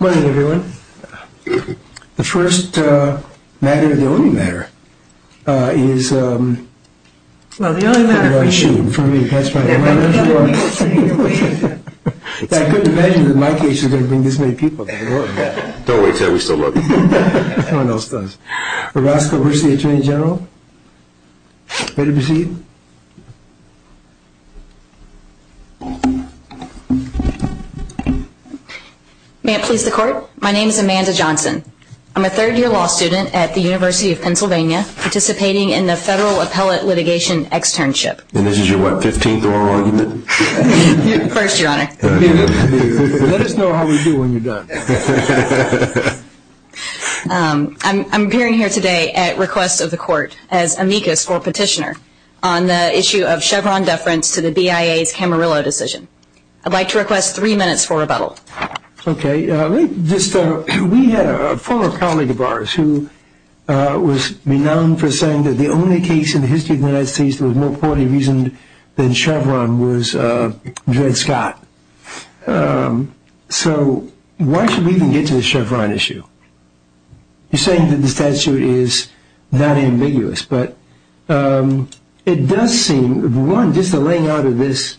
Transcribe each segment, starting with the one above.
Orozco-Velasquez v. Atty. Gen. Velasquez v. Atty. Gen. Velasquez v. Atty. Gen. Velasquez May it please the court, my name is Amanda Johnson. I'm a third year law student at the University of Pennsylvania, participating in the Federal Appellate Litigation Externship. And this is your what, 15th oral argument? First, your honor. Let us know how we do when you're done. I'm appearing here today at request of the court as amicus or petitioner on the issue of Chevron deference to the BIA's Camarillo decision. I'd like to request three minutes for rebuttal. Okay. We had a former colleague of ours who was renowned for saying that the only case in the history of the United States that was more poorly reasoned than Chevron was Dred Scott. So why should we even get to the Chevron issue? You're saying that the statute is not ambiguous, but it does seem, one, just the laying out of this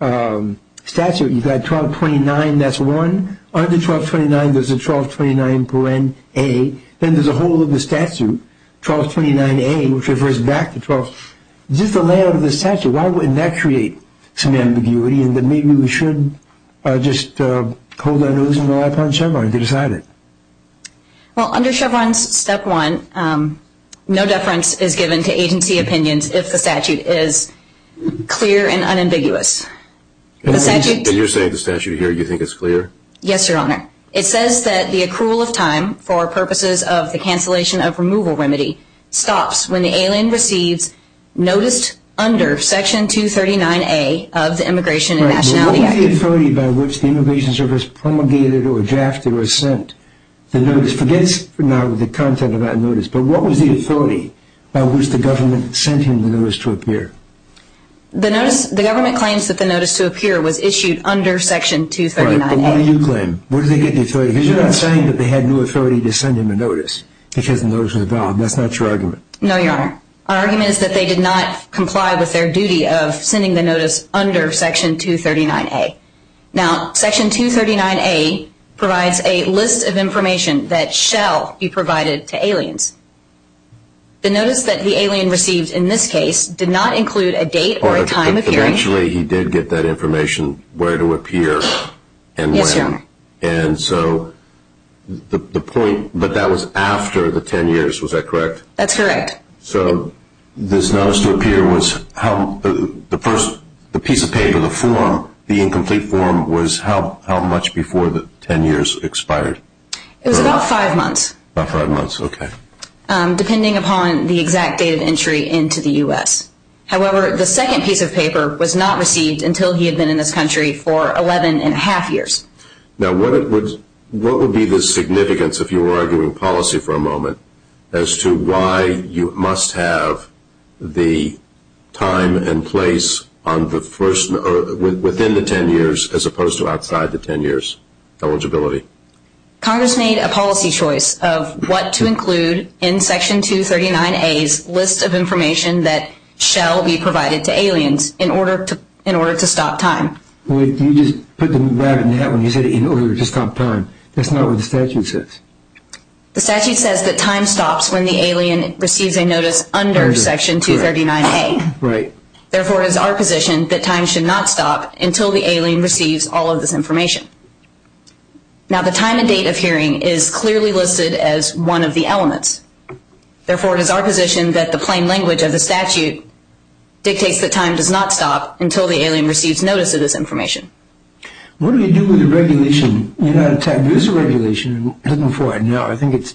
statute, you've got 1229, that's one. Under 1229, there's a 1229 paren a. Then there's a whole other statute, 1229 a, which refers back to 1229. Just the layout of the statute, why wouldn't that create some ambiguity and that maybe we should just hold our nose and rely upon Chevron to decide it? Well, under Chevron's step one, no deference is given to agency opinions if the statute is clear and unambiguous. And you're saying the statute here, you think it's clear? Yes, your honor. It says that the accrual of time for purposes of the cancellation of removal remedy stops when the alien receives notice under section 239a of the Immigration and Nationality Act. What was the authority by which the Immigration Service promulgated or drafted or sent the notice? Forget the content of that notice, but what was the authority by which the government sent him the notice to appear? The government claims that the notice to appear was issued under section 239a. But what do you claim? Because you're not saying that they had no authority to send him a notice because the notice was valid. That's not your argument. No, your honor. Our argument is that they did not comply with their duty of sending the notice under section 239a. Now, section 239a provides a list of information that shall be provided to aliens. The notice that the alien received in this case did not include a date or a time of hearing. But eventually he did get that information where to appear and when. Yes, your honor. And so the point, but that was after the ten years, was that correct? That's correct. So this notice to appear was how, the first, the piece of paper, the form, the incomplete form was how much before the ten years expired? It was about five months. About five months, okay. Depending upon the exact date of entry into the U.S. However, the second piece of paper was not received until he had been in this country for eleven and a half years. Now, what would be the significance, if you were arguing policy for a moment, as to why you must have the time and place within the ten years as opposed to outside the ten years eligibility? Congress made a policy choice of what to include in section 239a's list of information that shall be provided to aliens in order to stop time. Wait, you just put the rabbit in the hat when you said in order to stop time. That's not what the statute says. The statute says that time stops when the alien receives a notice under section 239a. Right. Therefore, it is our position that time should not stop until the alien receives all of this information. Now, the time and date of hearing is clearly listed as one of the elements. Therefore, it is our position that the plain language of the statute dictates that time does not stop until the alien receives notice of this information. What do you do with the regulation? You're not entitled to this regulation. I'm looking for it now. I think it's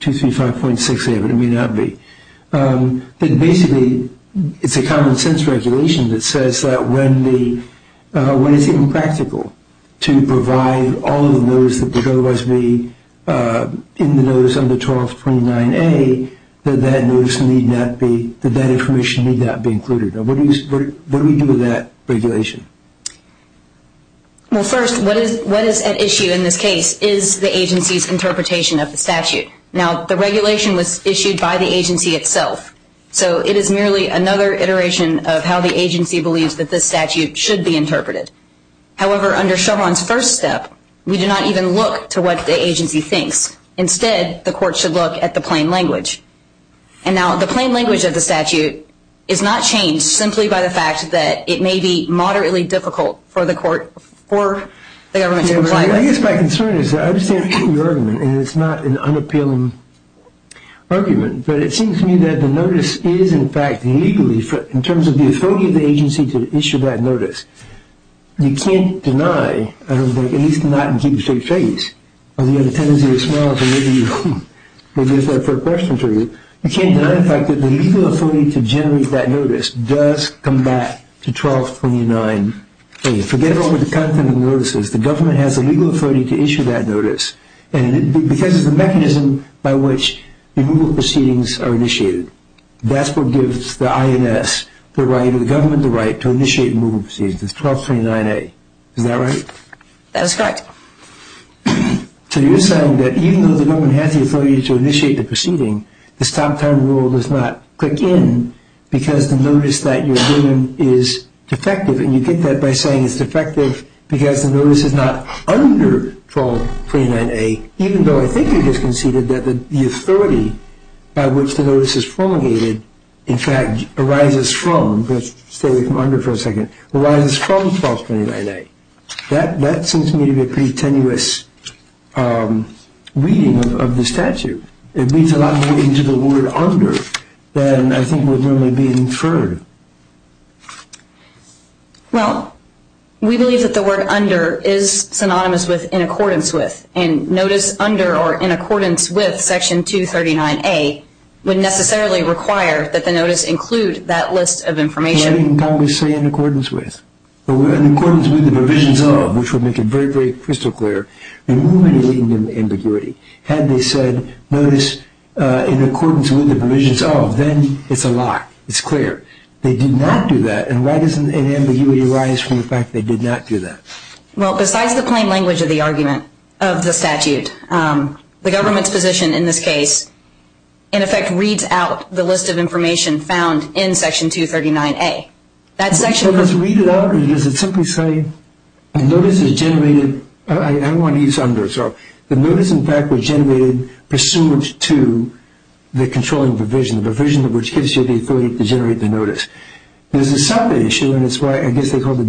235.6a, but it may not be. Basically, it's a common sense regulation that says that when it's impractical to provide all of the notice that would otherwise be in the notice under 1229a, that that information need not be included. What do we do with that regulation? Well, first, what is at issue in this case is the agency's interpretation of the statute. Now, the regulation was issued by the agency itself, so it is merely another iteration of how the agency believes that this statute should be interpreted. However, under Chauvin's first step, we do not even look to what the agency thinks. Instead, the court should look at the plain language. And now, the plain language of the statute is not changed simply by the fact that it may be moderately difficult for the government to comply with. I guess my concern is that I understand your argument, and it's not an unappealing argument, but it seems to me that the notice is, in fact, legally, in terms of the authority of the agency to issue that notice, you can't deny, at least not in keeping straight face. You have a tendency to smile, so maybe that's a fair question for you. You can't deny the fact that the legal authority to generate that notice does come back to 1229a. Forget about the content of the notices. The government has the legal authority to issue that notice, and because of the mechanism by which removal proceedings are initiated, that's what gives the INS the right or the government the right to initiate removal proceedings. It's 1229a. Is that right? That is correct. So you're saying that even though the government has the authority to initiate the proceeding, this top-down rule does not click in because the notice that you're giving is defective, and you get that by saying it's defective because the notice is not under 1229a, even though I think you just conceded that the authority by which the notice is promulgated, in fact, arises from. Let's stay with under for a second. Arises from 1229a. That seems to me to be a pretty tenuous reading of the statute. It reads a lot more into the word under than I think would normally be inferred. Well, we believe that the word under is synonymous with in accordance with, and notice under or in accordance with Section 239a would necessarily require that the notice include that list of information. What did Congress say in accordance with? In accordance with the provisions of, which would make it very, very crystal clear, removing the ambiguity. Had they said notice in accordance with the provisions of, then it's a lie. It's clear. They did not do that, and why doesn't an ambiguity arise from the fact they did not do that? Well, besides the plain language of the argument of the statute, the government's position in this case, in effect, reads out the list of information found in Section 239a. So does it read it out, or does it simply say notice is generated? I want to use under. The notice, in fact, was generated pursuant to the controlling provision, the provision which gives you the authority to generate the notice. There's a second issue, and it's why I guess they call it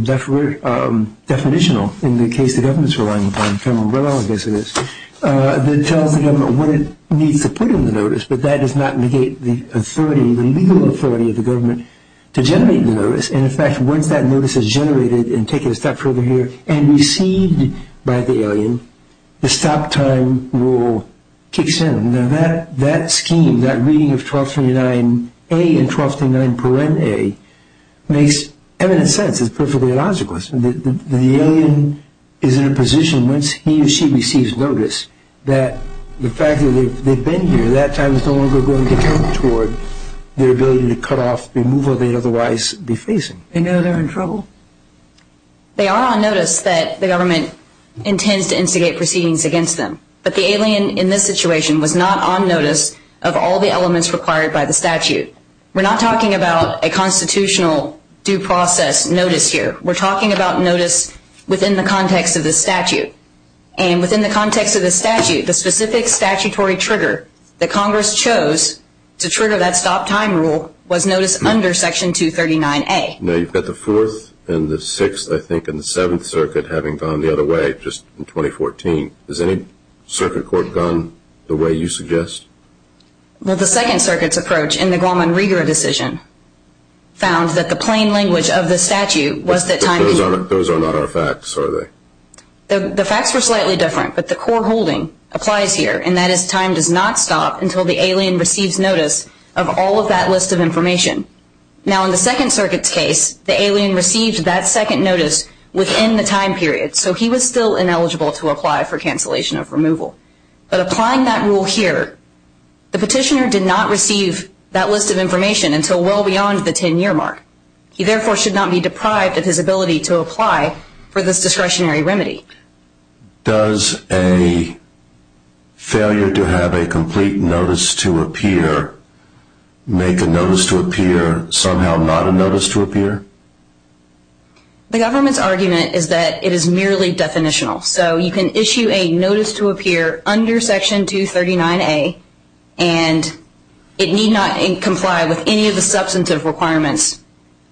definitional in the case the government's relying upon, in general, I guess it is, that tells the government what it needs to put in the notice, but that does not negate the authority, the legal authority of the government to generate the notice, and, in fact, once that notice is generated and taken a step further here and received by the alien, the stop time rule kicks in. Now, that scheme, that reading of 1239a and 1239.a makes eminent sense. It's perfectly illogical. The alien is in a position, once he or she receives notice, that the fact that they've been here, at that time, is no longer going to count toward their ability to cut off, remove, or otherwise be facing. They know they're in trouble? They are on notice that the government intends to instigate proceedings against them, but the alien in this situation was not on notice of all the elements required by the statute. We're not talking about a constitutional due process notice here. We're talking about notice within the context of the statute, and within the context of the statute, the specific statutory trigger that Congress chose to trigger that stop time rule was notice under Section 239a. Now, you've got the Fourth and the Sixth, I think, and the Seventh Circuit having gone the other way just in 2014. Has any circuit court gone the way you suggest? Well, the Second Circuit's approach in the Guam and Riga decision found that the plain language of the statute was that time period. But those are not our facts, are they? The facts were slightly different, but the core holding applies here, and that is time does not stop until the alien receives notice of all of that list of information. Now, in the Second Circuit's case, the alien received that second notice within the time period, so he was still ineligible to apply for cancellation of removal. But applying that rule here, the petitioner did not receive that list of information until well beyond the 10-year mark. He, therefore, should not be deprived of his ability to apply for this discretionary remedy. Does a failure to have a complete notice to appear make a notice to appear somehow not a notice to appear? The government's argument is that it is merely definitional. So you can issue a notice to appear under Section 239A, and it need not comply with any of the substantive requirements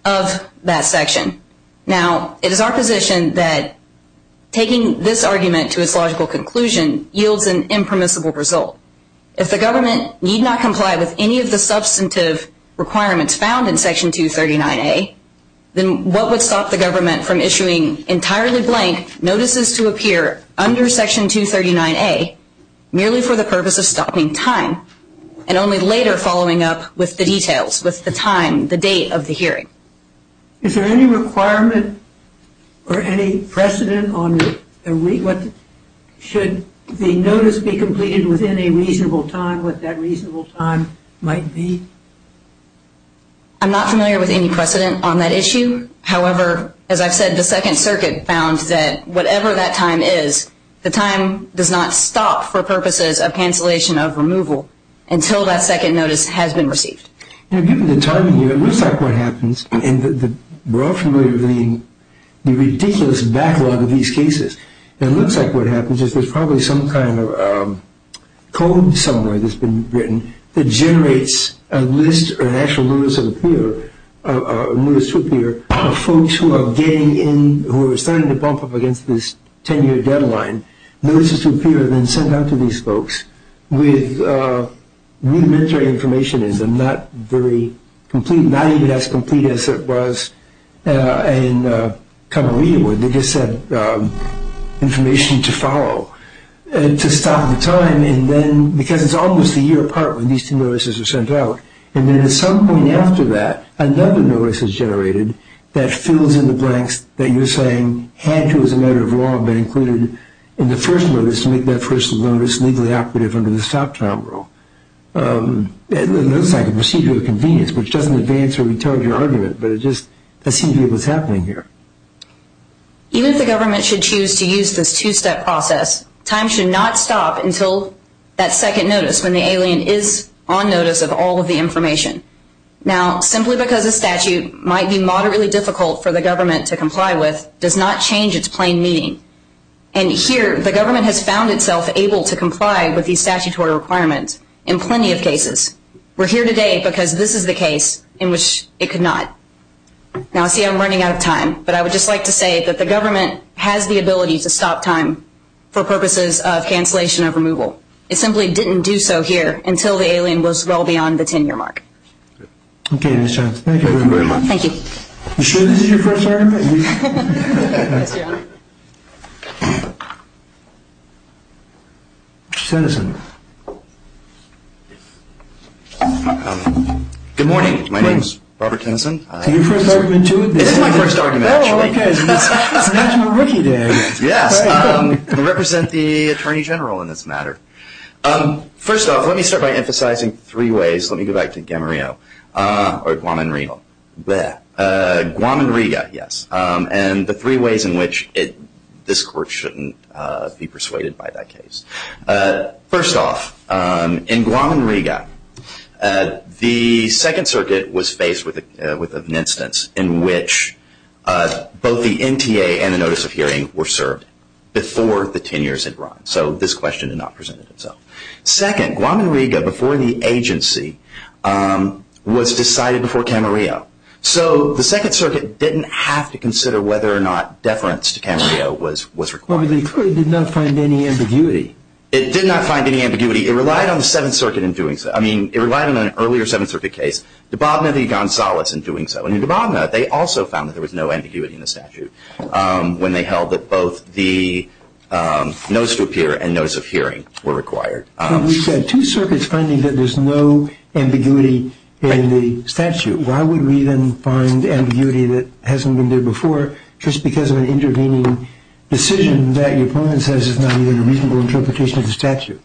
of that section. Now, it is our position that taking this argument to its logical conclusion yields an impermissible result. If the government need not comply with any of the substantive requirements found in Section 239A, then what would stop the government from issuing entirely blank notices to appear under Section 239A, merely for the purpose of stopping time, and only later following up with the details, with the time, the date of the hearing? Is there any requirement or any precedent on what should the notice be completed within a reasonable time, what that reasonable time might be? I'm not familiar with any precedent on that issue. However, as I've said, the Second Circuit found that whatever that time is, the time does not stop for purposes of cancellation of removal until that second notice has been received. Given the timing here, it looks like what happens, and we're all familiar with the ridiculous backlog of these cases, it looks like what happens is there's probably some kind of code somewhere that's been written that generates a list or an actual notice to appear of folks who are getting in, who are starting to bump up against this 10-year deadline. Notices to appear are then sent out to these folks with rudimentary information in them, not very complete, not even as complete as it was in Camarillo, where they just had information to follow to stop the time. Because it's almost a year apart when these two notices are sent out, and then at some point after that, another notice is generated that fills in the blanks that you're saying had to, as a matter of law, have been included in the first notice to make that first notice legally operative under the stop time rule. It looks like a procedure of convenience, which doesn't advance or retard your argument, but it just assumes what's happening here. Even if the government should choose to use this two-step process, time should not stop until that second notice when the alien is on notice of all of the information. Now, simply because a statute might be moderately difficult for the government to comply with does not change its plain meaning. And here, the government has found itself able to comply with these statutory requirements in plenty of cases. We're here today because this is the case in which it could not. Now, see, I'm running out of time, but I would just like to say that the government has the ability to stop time for purposes of cancellation of removal. It simply didn't do so here until the alien was well beyond the 10-year mark. Okay, Ms. Johnson. Thank you very much. Thank you. Are you sure this is your first argument? Yes, Your Honor. Mr. Tennyson. Good morning. My name is Robert Tennyson. Is this your first argument, too? This is my first argument, actually. Oh, okay. It's National Rookie Day. Yes. I represent the Attorney General in this matter. First off, let me start by emphasizing three ways. Let me go back to Guaman-Rigo. Guaman-Rigo, yes. And the three ways in which this Court shouldn't be persuaded by that case. First off, in Guaman-Rigo, the Second Circuit was faced with an instance in which both the NTA and the notice of hearing were served before the 10 years had run. So this question did not present itself. Second, Guaman-Rigo, before the agency, was decided before Camarillo. So the Second Circuit didn't have to consider whether or not deference to Camarillo was required. But the Court did not find any ambiguity. It did not find any ambiguity. It relied on the Seventh Circuit in doing so. I mean, it relied on an earlier Seventh Circuit case, Dababneh v. Gonzalez, in doing so. And in Dababneh, they also found that there was no ambiguity in the statute when they held that both the notice to appear and notice of hearing were required. But we've got two circuits finding that there's no ambiguity in the statute. Why would we then find ambiguity that hasn't been there before just because of an intervening decision that your opponent says is not even a reasonable interpretation of the statute?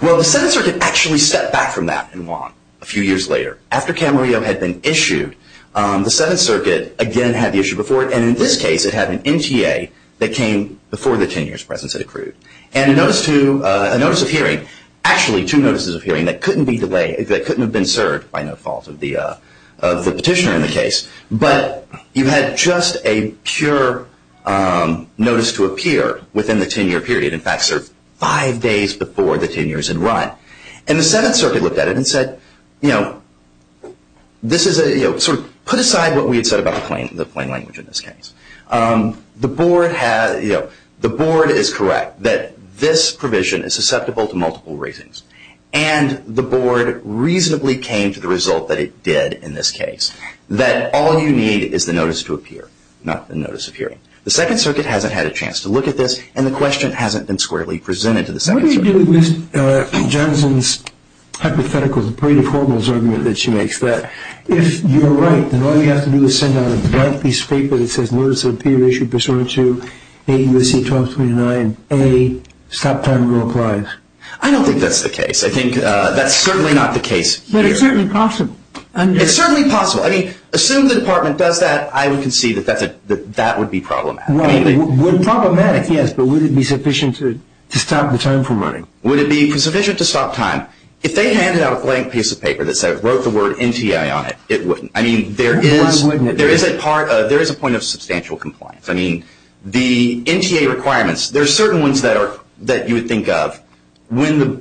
Well, the Seventh Circuit actually stepped back from that in Guaman a few years later. After Camarillo had been issued, the Seventh Circuit again had the issue before it. And in this case, it had an NTA that came before the 10 years' presence had accrued. And a notice of hearing, actually two notices of hearing that couldn't be delayed, by no fault of the petitioner in the case. But you had just a pure notice to appear within the 10-year period. In fact, five days before the 10 years had run. And the Seventh Circuit looked at it and said, put aside what we had said about the plain language in this case. The board is correct that this provision is susceptible to multiple ratings. And the board reasonably came to the result that it did in this case. That all you need is the notice to appear, not the notice of hearing. The Second Circuit hasn't had a chance to look at this. And the question hasn't been squarely presented to the Second Circuit. What do you do with Johnson's hypothetical, the Brady-Cornwalls argument that she makes? That if you're right, then all you have to do is send out a blank piece of paper that says, Notice of Appeal Issued Pursuant to A. U.S.C. 1229 A. Stop Time Rule Applies. I don't think that's the case. I think that's certainly not the case here. But it's certainly possible. It's certainly possible. I mean, assume the department does that, I would concede that that would be problematic. Well, problematic, yes, but would it be sufficient to stop the time from running? Would it be sufficient to stop time? If they handed out a blank piece of paper that said, wrote the word NTA on it, it wouldn't. I mean, there is a point of substantial compliance. I mean, the NTA requirements, there are certain ones that you would think of. Under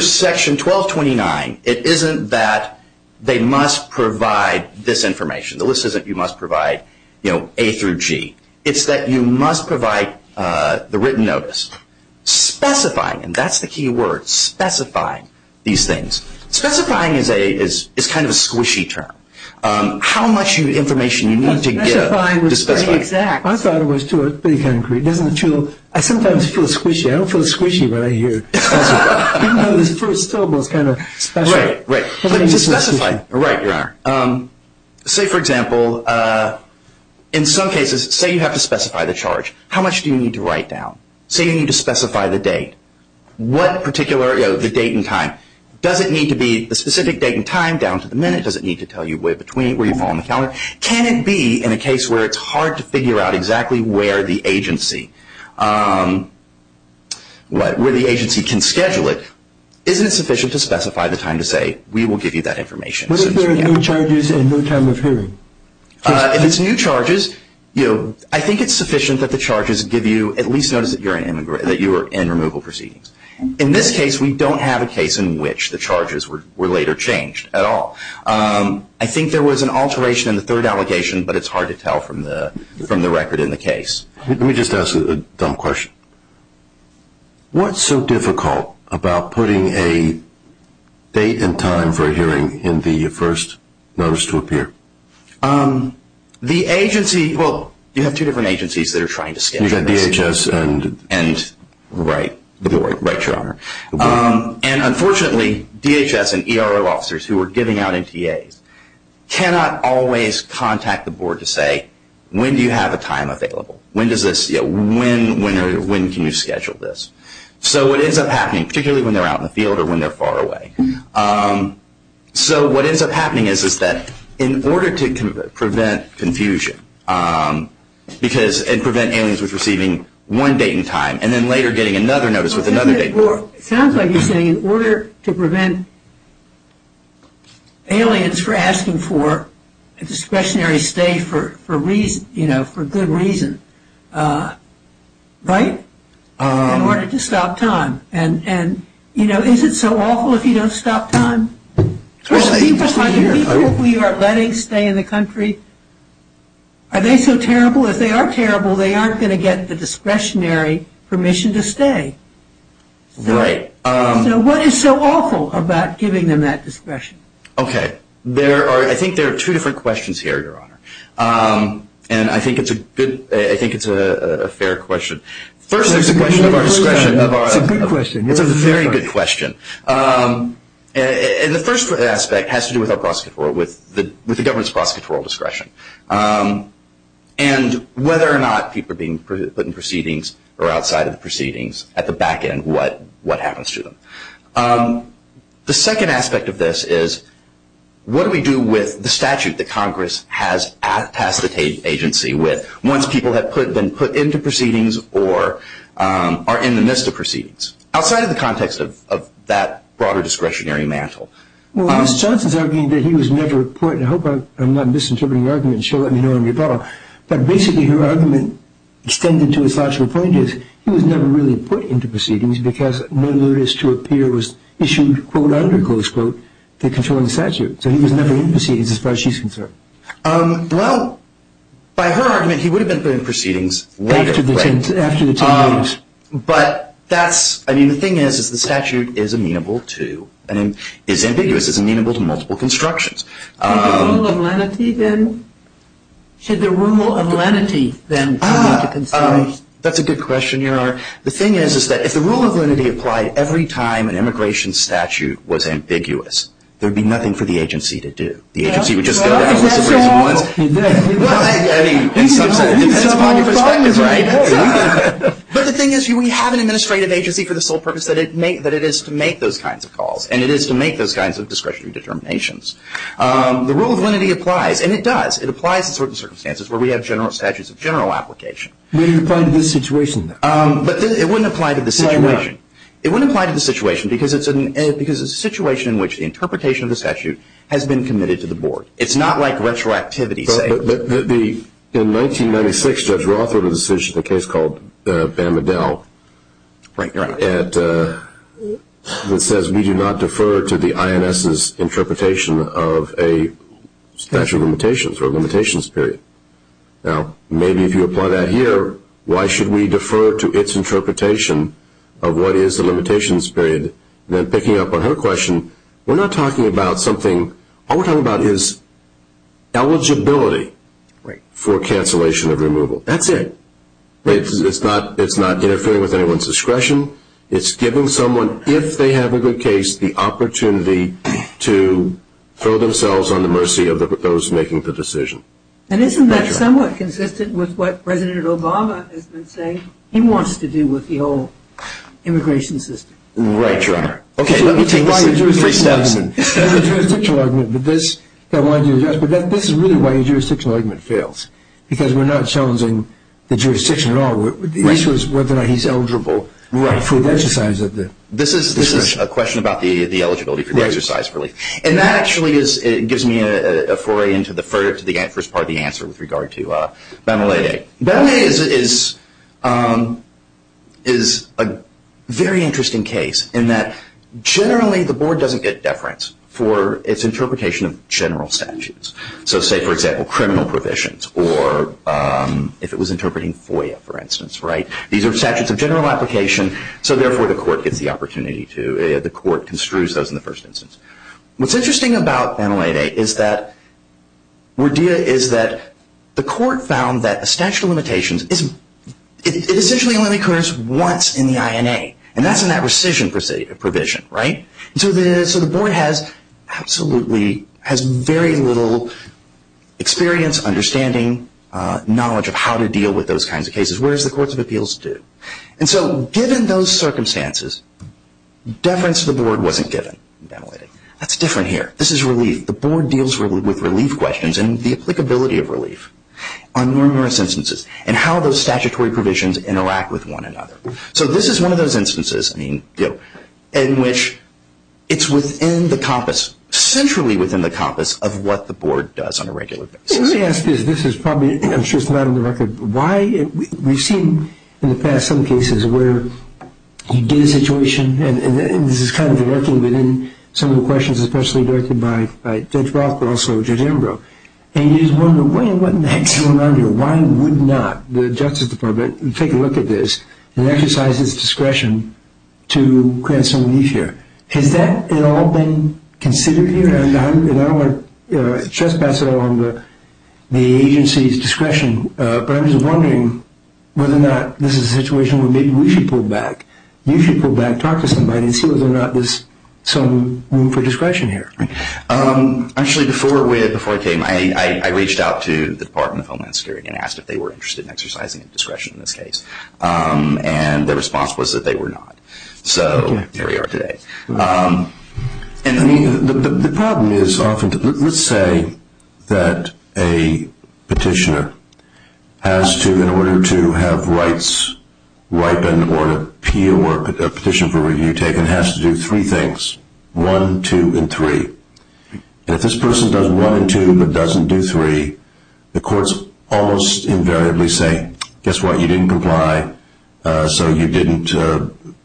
Section 1229, it isn't that they must provide this information. The list says that you must provide A through G. It's that you must provide the written notice. Specifying, and that's the key word, specifying these things. Specifying is kind of a squishy term. How much information do you need to give to specify? I thought it was pretty concrete. I sometimes feel squishy. I don't feel squishy when I hear it. Even though the first syllable is kind of special. Right, right. To specify. Right, Your Honor. Say, for example, in some cases, say you have to specify the charge. How much do you need to write down? Say you need to specify the date. What particular, you know, the date and time. Does it need to be the specific date and time down to the minute? Does it need to tell you where you fall on the counter? Can it be in a case where it's hard to figure out exactly where the agency can schedule it? Isn't it sufficient to specify the time to say, we will give you that information? What if there are new charges and no time of hearing? If it's new charges, I think it's sufficient that the charges give you at least notice that you're in removal proceedings. In this case, we don't have a case in which the charges were later changed at all. I think there was an alteration in the third allegation, but it's hard to tell from the record in the case. Let me just ask a dumb question. What's so difficult about putting a date and time for a hearing in the first notice to appear? The agency, well, you have two different agencies that are trying to schedule this. DHS and the board. Right, Your Honor. Unfortunately, DHS and ERO officers who are giving out NTAs cannot always contact the board to say, when do you have a time available? When can you schedule this? What ends up happening, particularly when they're out in the field or when they're far away, So what ends up happening is that in order to prevent confusion and prevent aliens from receiving one date and time and then later getting another notice with another date and time. It sounds like you're saying in order to prevent aliens from asking for a discretionary stay for good reason, right? In order to stop time. Is it so awful if you don't stop time? People who you are letting stay in the country, are they so terrible? If they are terrible, they aren't going to get the discretionary permission to stay. Right. So what is so awful about giving them that discretion? Okay, I think there are two different questions here, Your Honor. And I think it's a fair question. First, there's a question of our discretion. It's a good question. It's a very good question. And the first aspect has to do with our prosecutorial, with the government's prosecutorial discretion and whether or not people are being put in proceedings or outside of the proceedings, at the back end, what happens to them. The second aspect of this is, what do we do with the statute that Congress has passed the agency with? Once people have been put into proceedings or are in the midst of proceedings? Outside of the context of that broader discretionary mantle. Well, Ms. Johnson is arguing that he was never put in. I hope I'm not misinterpreting the argument. She'll let me know when we're done. But basically, her argument, extended to a factual point, is he was never really put into proceedings because no notice to appear was issued, quote, under, close quote, the controlling statute. So he was never in proceedings as far as she's concerned. Well, by her argument, he would have been put in proceedings later. After the 10 days. But that's, I mean, the thing is, is the statute is amenable to, is ambiguous, is amenable to multiple constructions. Should the rule of lenity then be considered? That's a good question, Your Honor. The thing is, is that if the rule of lenity applied every time an immigration statute was ambiguous, there would be nothing for the agency to do. The agency would just go down the list of reasonable ones. I mean, it depends upon your perspective, right? But the thing is, we have an administrative agency for the sole purpose that it is to make those kinds of calls, and it is to make those kinds of discretionary determinations. The rule of lenity applies, and it does. It applies in certain circumstances where we have general statutes of general application. But it wouldn't apply to this situation. Because it's a situation in which the interpretation of the statute has been committed to the board. It's not like retroactivity. In 1996, Judge Roth wrote a decision, a case called Bamadel. Right, you're right. It says we do not defer to the INS's interpretation of a statute of limitations or a limitations period. Now, maybe if you apply that here, why should we defer to its interpretation of what is the limitations period? Then picking up on her question, we're not talking about something. All we're talking about is eligibility for cancellation of removal. That's it. It's not interfering with anyone's discretion. It's giving someone, if they have a good case, the opportunity to throw themselves on the mercy of those making the decision. And isn't that somewhat consistent with what President Obama has been saying? He wants to do with the whole immigration system. Right, Your Honor. Okay, let me take this three steps. That's a jurisdictional argument, but this is really why a jurisdictional argument fails, because we're not challenging the jurisdiction at all. The issue is whether or not he's eligible for the exercise of the decision. This is a question about the eligibility for the exercise of relief. And that actually gives me a foray into the first part of the answer with regard to Benelade. Benelade is a very interesting case in that generally the board doesn't get deference for its interpretation of general statutes. So say, for example, criminal provisions or if it was interpreting FOIA, for instance. These are statutes of general application, so therefore the court construes those in the first instance. What's interesting about Benelade is that the court found that the statute of limitations, it essentially only occurs once in the INA, and that's in that rescission provision, right? So the board has very little experience, understanding, knowledge of how to deal with those kinds of cases, whereas the courts of appeals do. And so given those circumstances, deference to the board wasn't given in Benelade. That's different here. This is relief. The board deals with relief questions and the applicability of relief on numerous instances and how those statutory provisions interact with one another. So this is one of those instances in which it's within the compass, centrally within the compass of what the board does on a regular basis. So let me ask this. This is probably, I'm sure it's not on the record, why we've seen in the past some cases where you get a situation, and this is kind of lurking within some of the questions, especially directed by Judge Roth but also Judge Ambrose, and you just wonder, wait a minute, what in the heck is going on here? Why would not the Justice Department take a look at this and exercise its discretion to grant some relief here? Has that at all been considered here? And I don't want to trespass on the agency's discretion, but I'm just wondering whether or not this is a situation where maybe we should pull back. You should pull back, talk to somebody, and see whether or not there's some room for discretion here. Actually, before I came, I reached out to the Department of Homeland Security and asked if they were interested in exercising discretion in this case, and their response was that they were not. So here we are today. The problem is often, let's say that a petitioner has to, in order to have rights ripen or a petition for review taken, has to do three things, one, two, and three. And if this person does one and two but doesn't do three, the courts almost invariably say, guess what, you didn't comply, so you didn't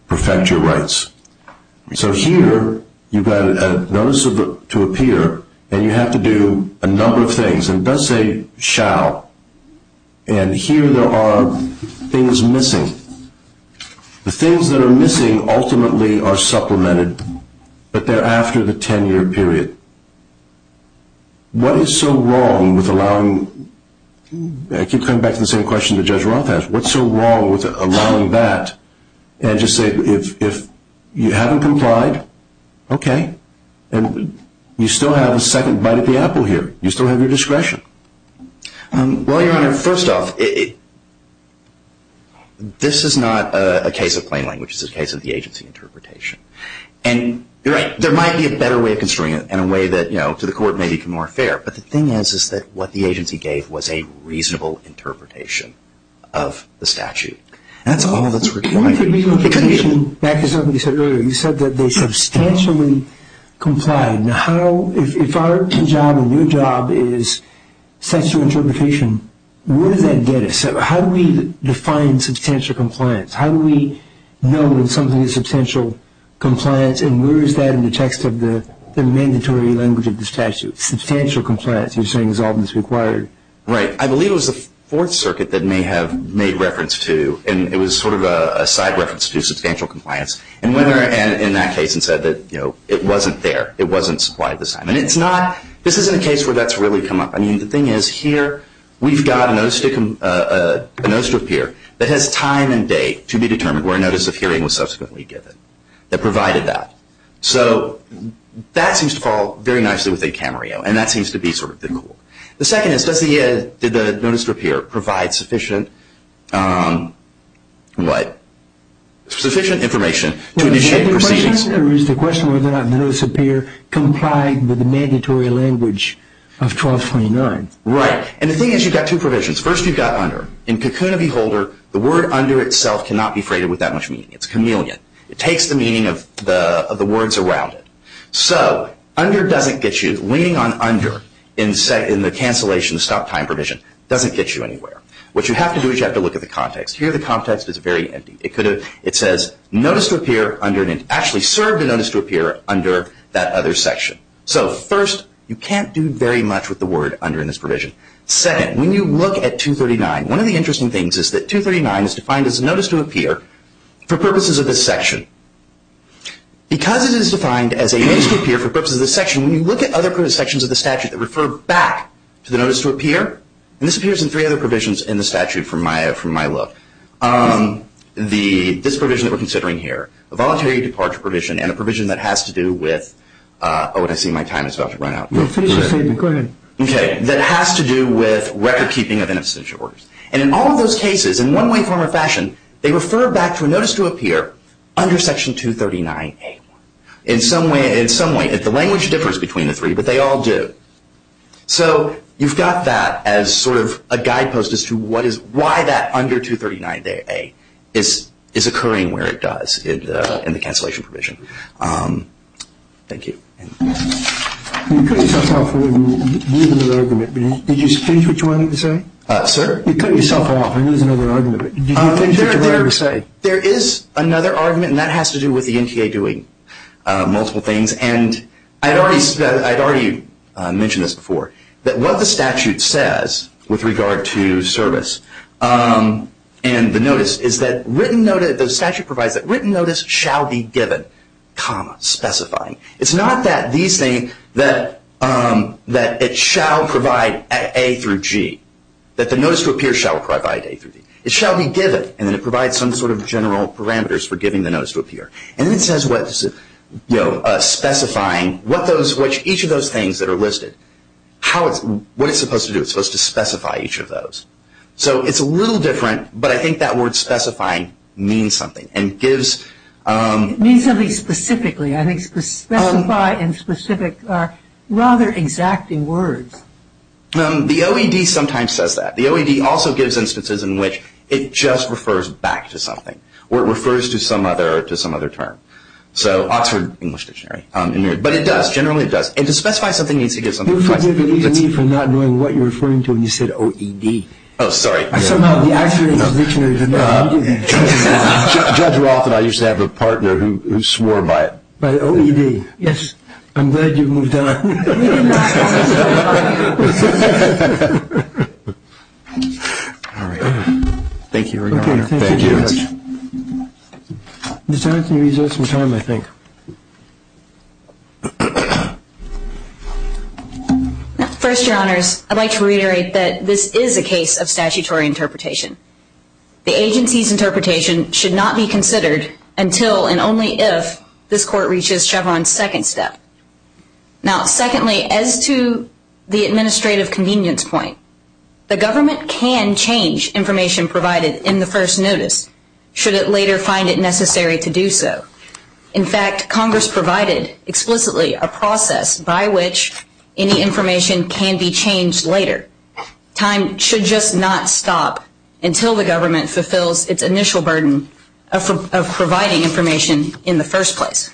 perfect your rights. So here you've got a notice to appear, and you have to do a number of things, and it does say shall, and here there are things missing. The things that are missing ultimately are supplemented, but they're after the 10-year period. What is so wrong with allowing, I keep coming back to the same question that Judge Roth asked, what's so wrong with allowing that and just say if you haven't complied, okay, and you still have a second bite at the apple here. You still have your discretion. Well, Your Honor, first off, this is not a case of plain language. This is a case of the agency interpretation. And there might be a better way of construing it and a way that to the court may be more fair, but the thing is that what the agency gave was a reasonable interpretation of the statute. That's all that's required. You said that they substantially complied. Now, if our job and your job is such an interpretation, where does that get us? How do we define substantial compliance? How do we know when something is substantial compliance, you're saying is all that's required? Right. I believe it was the Fourth Circuit that may have made reference to, and it was sort of a side reference to substantial compliance, and went in that case and said that it wasn't there. It wasn't supplied at the time. And it's not, this isn't a case where that's really come up. I mean, the thing is here we've got a notice to appear that has time and date to be determined where a notice of hearing was subsequently given that provided that. So that seems to fall very nicely within Camarillo, and that seems to be sort of the goal. The second is, does the notice to appear provide sufficient what? Sufficient information to initiate proceedings? The question is whether or not the notice to appear complied with the mandatory language of 1229. Right. And the thing is you've got two provisions. First, you've got under. In Cocoon of Beholder, the word under itself cannot be freighted with that much meaning. It's chameleon. It takes the meaning of the words around it. So under doesn't get you. Leaning on under in the cancellation stop time provision doesn't get you anywhere. What you have to do is you have to look at the context. Here the context is very empty. It says notice to appear under, and it actually served a notice to appear under that other section. So first, you can't do very much with the word under in this provision. Second, when you look at 239, one of the interesting things is that 239 is defined as a notice to appear for purposes of this section. Because it is defined as a notice to appear for purposes of this section, when you look at other provisions of the statute that refer back to the notice to appear, and this appears in three other provisions in the statute from my look, this provision that we're considering here, a voluntary departure provision, and a provision that has to do with, oh, I see my time is about to run out. Go ahead. Okay. That has to do with record keeping of an extension order. And in all of those cases, in one way, form, or fashion, they refer back to a notice to appear under section 239A. In some way, the language differs between the three, but they all do. So you've got that as sort of a guidepost as to why that under 239A is occurring where it does in the cancellation provision. Thank you. You cut yourself off and used another argument. Did you change which one you were saying? Sir? You cut yourself off and used another argument. Did you change which one you were saying? There is another argument, and that has to do with the NTA doing multiple things. And I had already mentioned this before, that what the statute says with regard to service and the notice is that the statute provides that written notice shall be given, comma, specifying. It's not that it shall provide A through G, that the notice to appear shall provide A through G. It shall be given, and then it provides some sort of general parameters for giving the notice to appear. And then it says specifying each of those things that are listed. What is it supposed to do? It's supposed to specify each of those. So it's a little different, but I think that word specifying means something. It means something specifically. I think specify and specific are rather exacting words. The OED sometimes says that. The OED also gives instances in which it just refers back to something, or it refers to some other term. Oxford English Dictionary. But it does, generally it does. And to specify something needs to give something to specify. You're forgiving me for not knowing what you're referring to when you said OED. Oh, sorry. Somehow the Oxford English Dictionary did not need it. Judge Roth and I used to have a partner who swore by it. By OED. Yes. I'm glad you moved on. All right. Thank you, Your Honor. Okay, thank you. Thank you, Judge. Mr. Anthony, we still have some time, I think. First, Your Honors, I'd like to reiterate that this is a case of statutory interpretation. The agency's interpretation should not be considered until and only if this court reaches Chevron's second step. Now, secondly, as to the administrative convenience point, the government can change information provided in the first notice should it later find it necessary to do so. In fact, Congress provided explicitly a process by which any information can be changed later. Time should just not stop until the government fulfills its initial burden of providing information in the first place.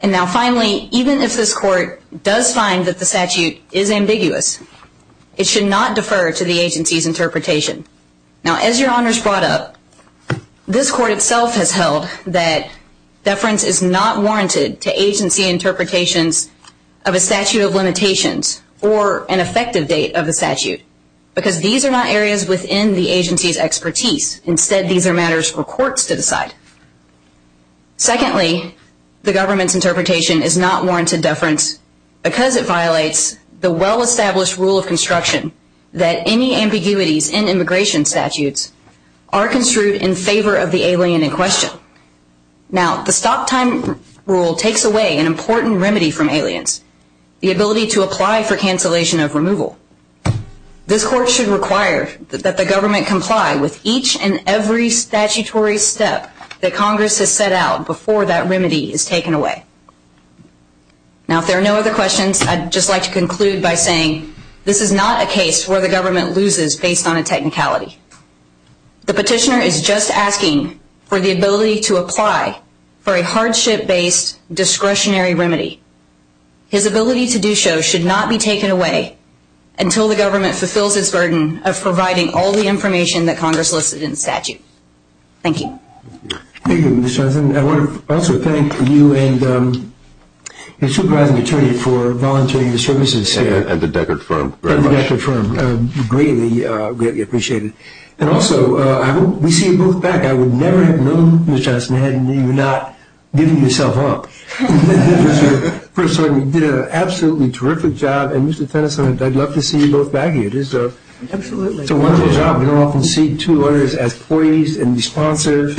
And now, finally, even if this court does find that the statute is ambiguous, it should not defer to the agency's interpretation. Now, as Your Honors brought up, this court itself has held that deference is not warranted to agency interpretations of a statute of limitations or an effective date of the statute because these are not areas within the agency's expertise. Instead, these are matters for courts to decide. Secondly, the government's interpretation is not warranted deference because it violates the well-established rule of construction that any ambiguities in immigration statutes are construed in favor of the alien in question. Now, the stop-time rule takes away an important remedy from aliens, the ability to apply for cancellation of removal. This court should require that the government comply with each and every statutory step that Congress has set out before that remedy is taken away. Now, if there are no other questions, I'd just like to conclude by saying this is not a case where the government loses based on a technicality. The petitioner is just asking for the ability to apply for a hardship-based discretionary remedy. His ability to do so should not be taken away until the government fulfills its burden of providing all the information that Congress listed in the statute. Thank you. Thank you, Mr. Johnson. I want to also thank you and your supervising attorney for volunteering your services here. And the Deckard Firm. And the Deckard Firm. Greatly appreciated. And also, we see you both back. I would never have known, Mr. Johnson, had you not given yourself up. First of all, you did an absolutely terrific job, and Mr. Tennyson, I'd love to see you both back here. Absolutely. It's a wonderful job. We don't often see two lawyers as poised and responsive.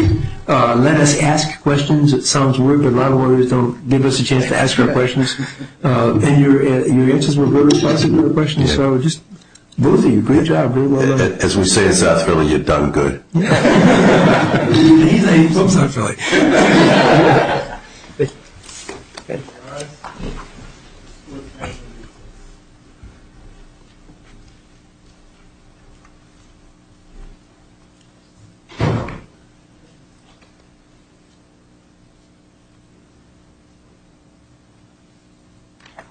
Let us ask questions. It sounds weird, but a lot of lawyers don't give us a chance to ask our questions. And your answers were very responsive to the questions, so just both of you, great job. As we say in South Philly, you've done good. And he's not even from South Philly. Thank you. Thank you.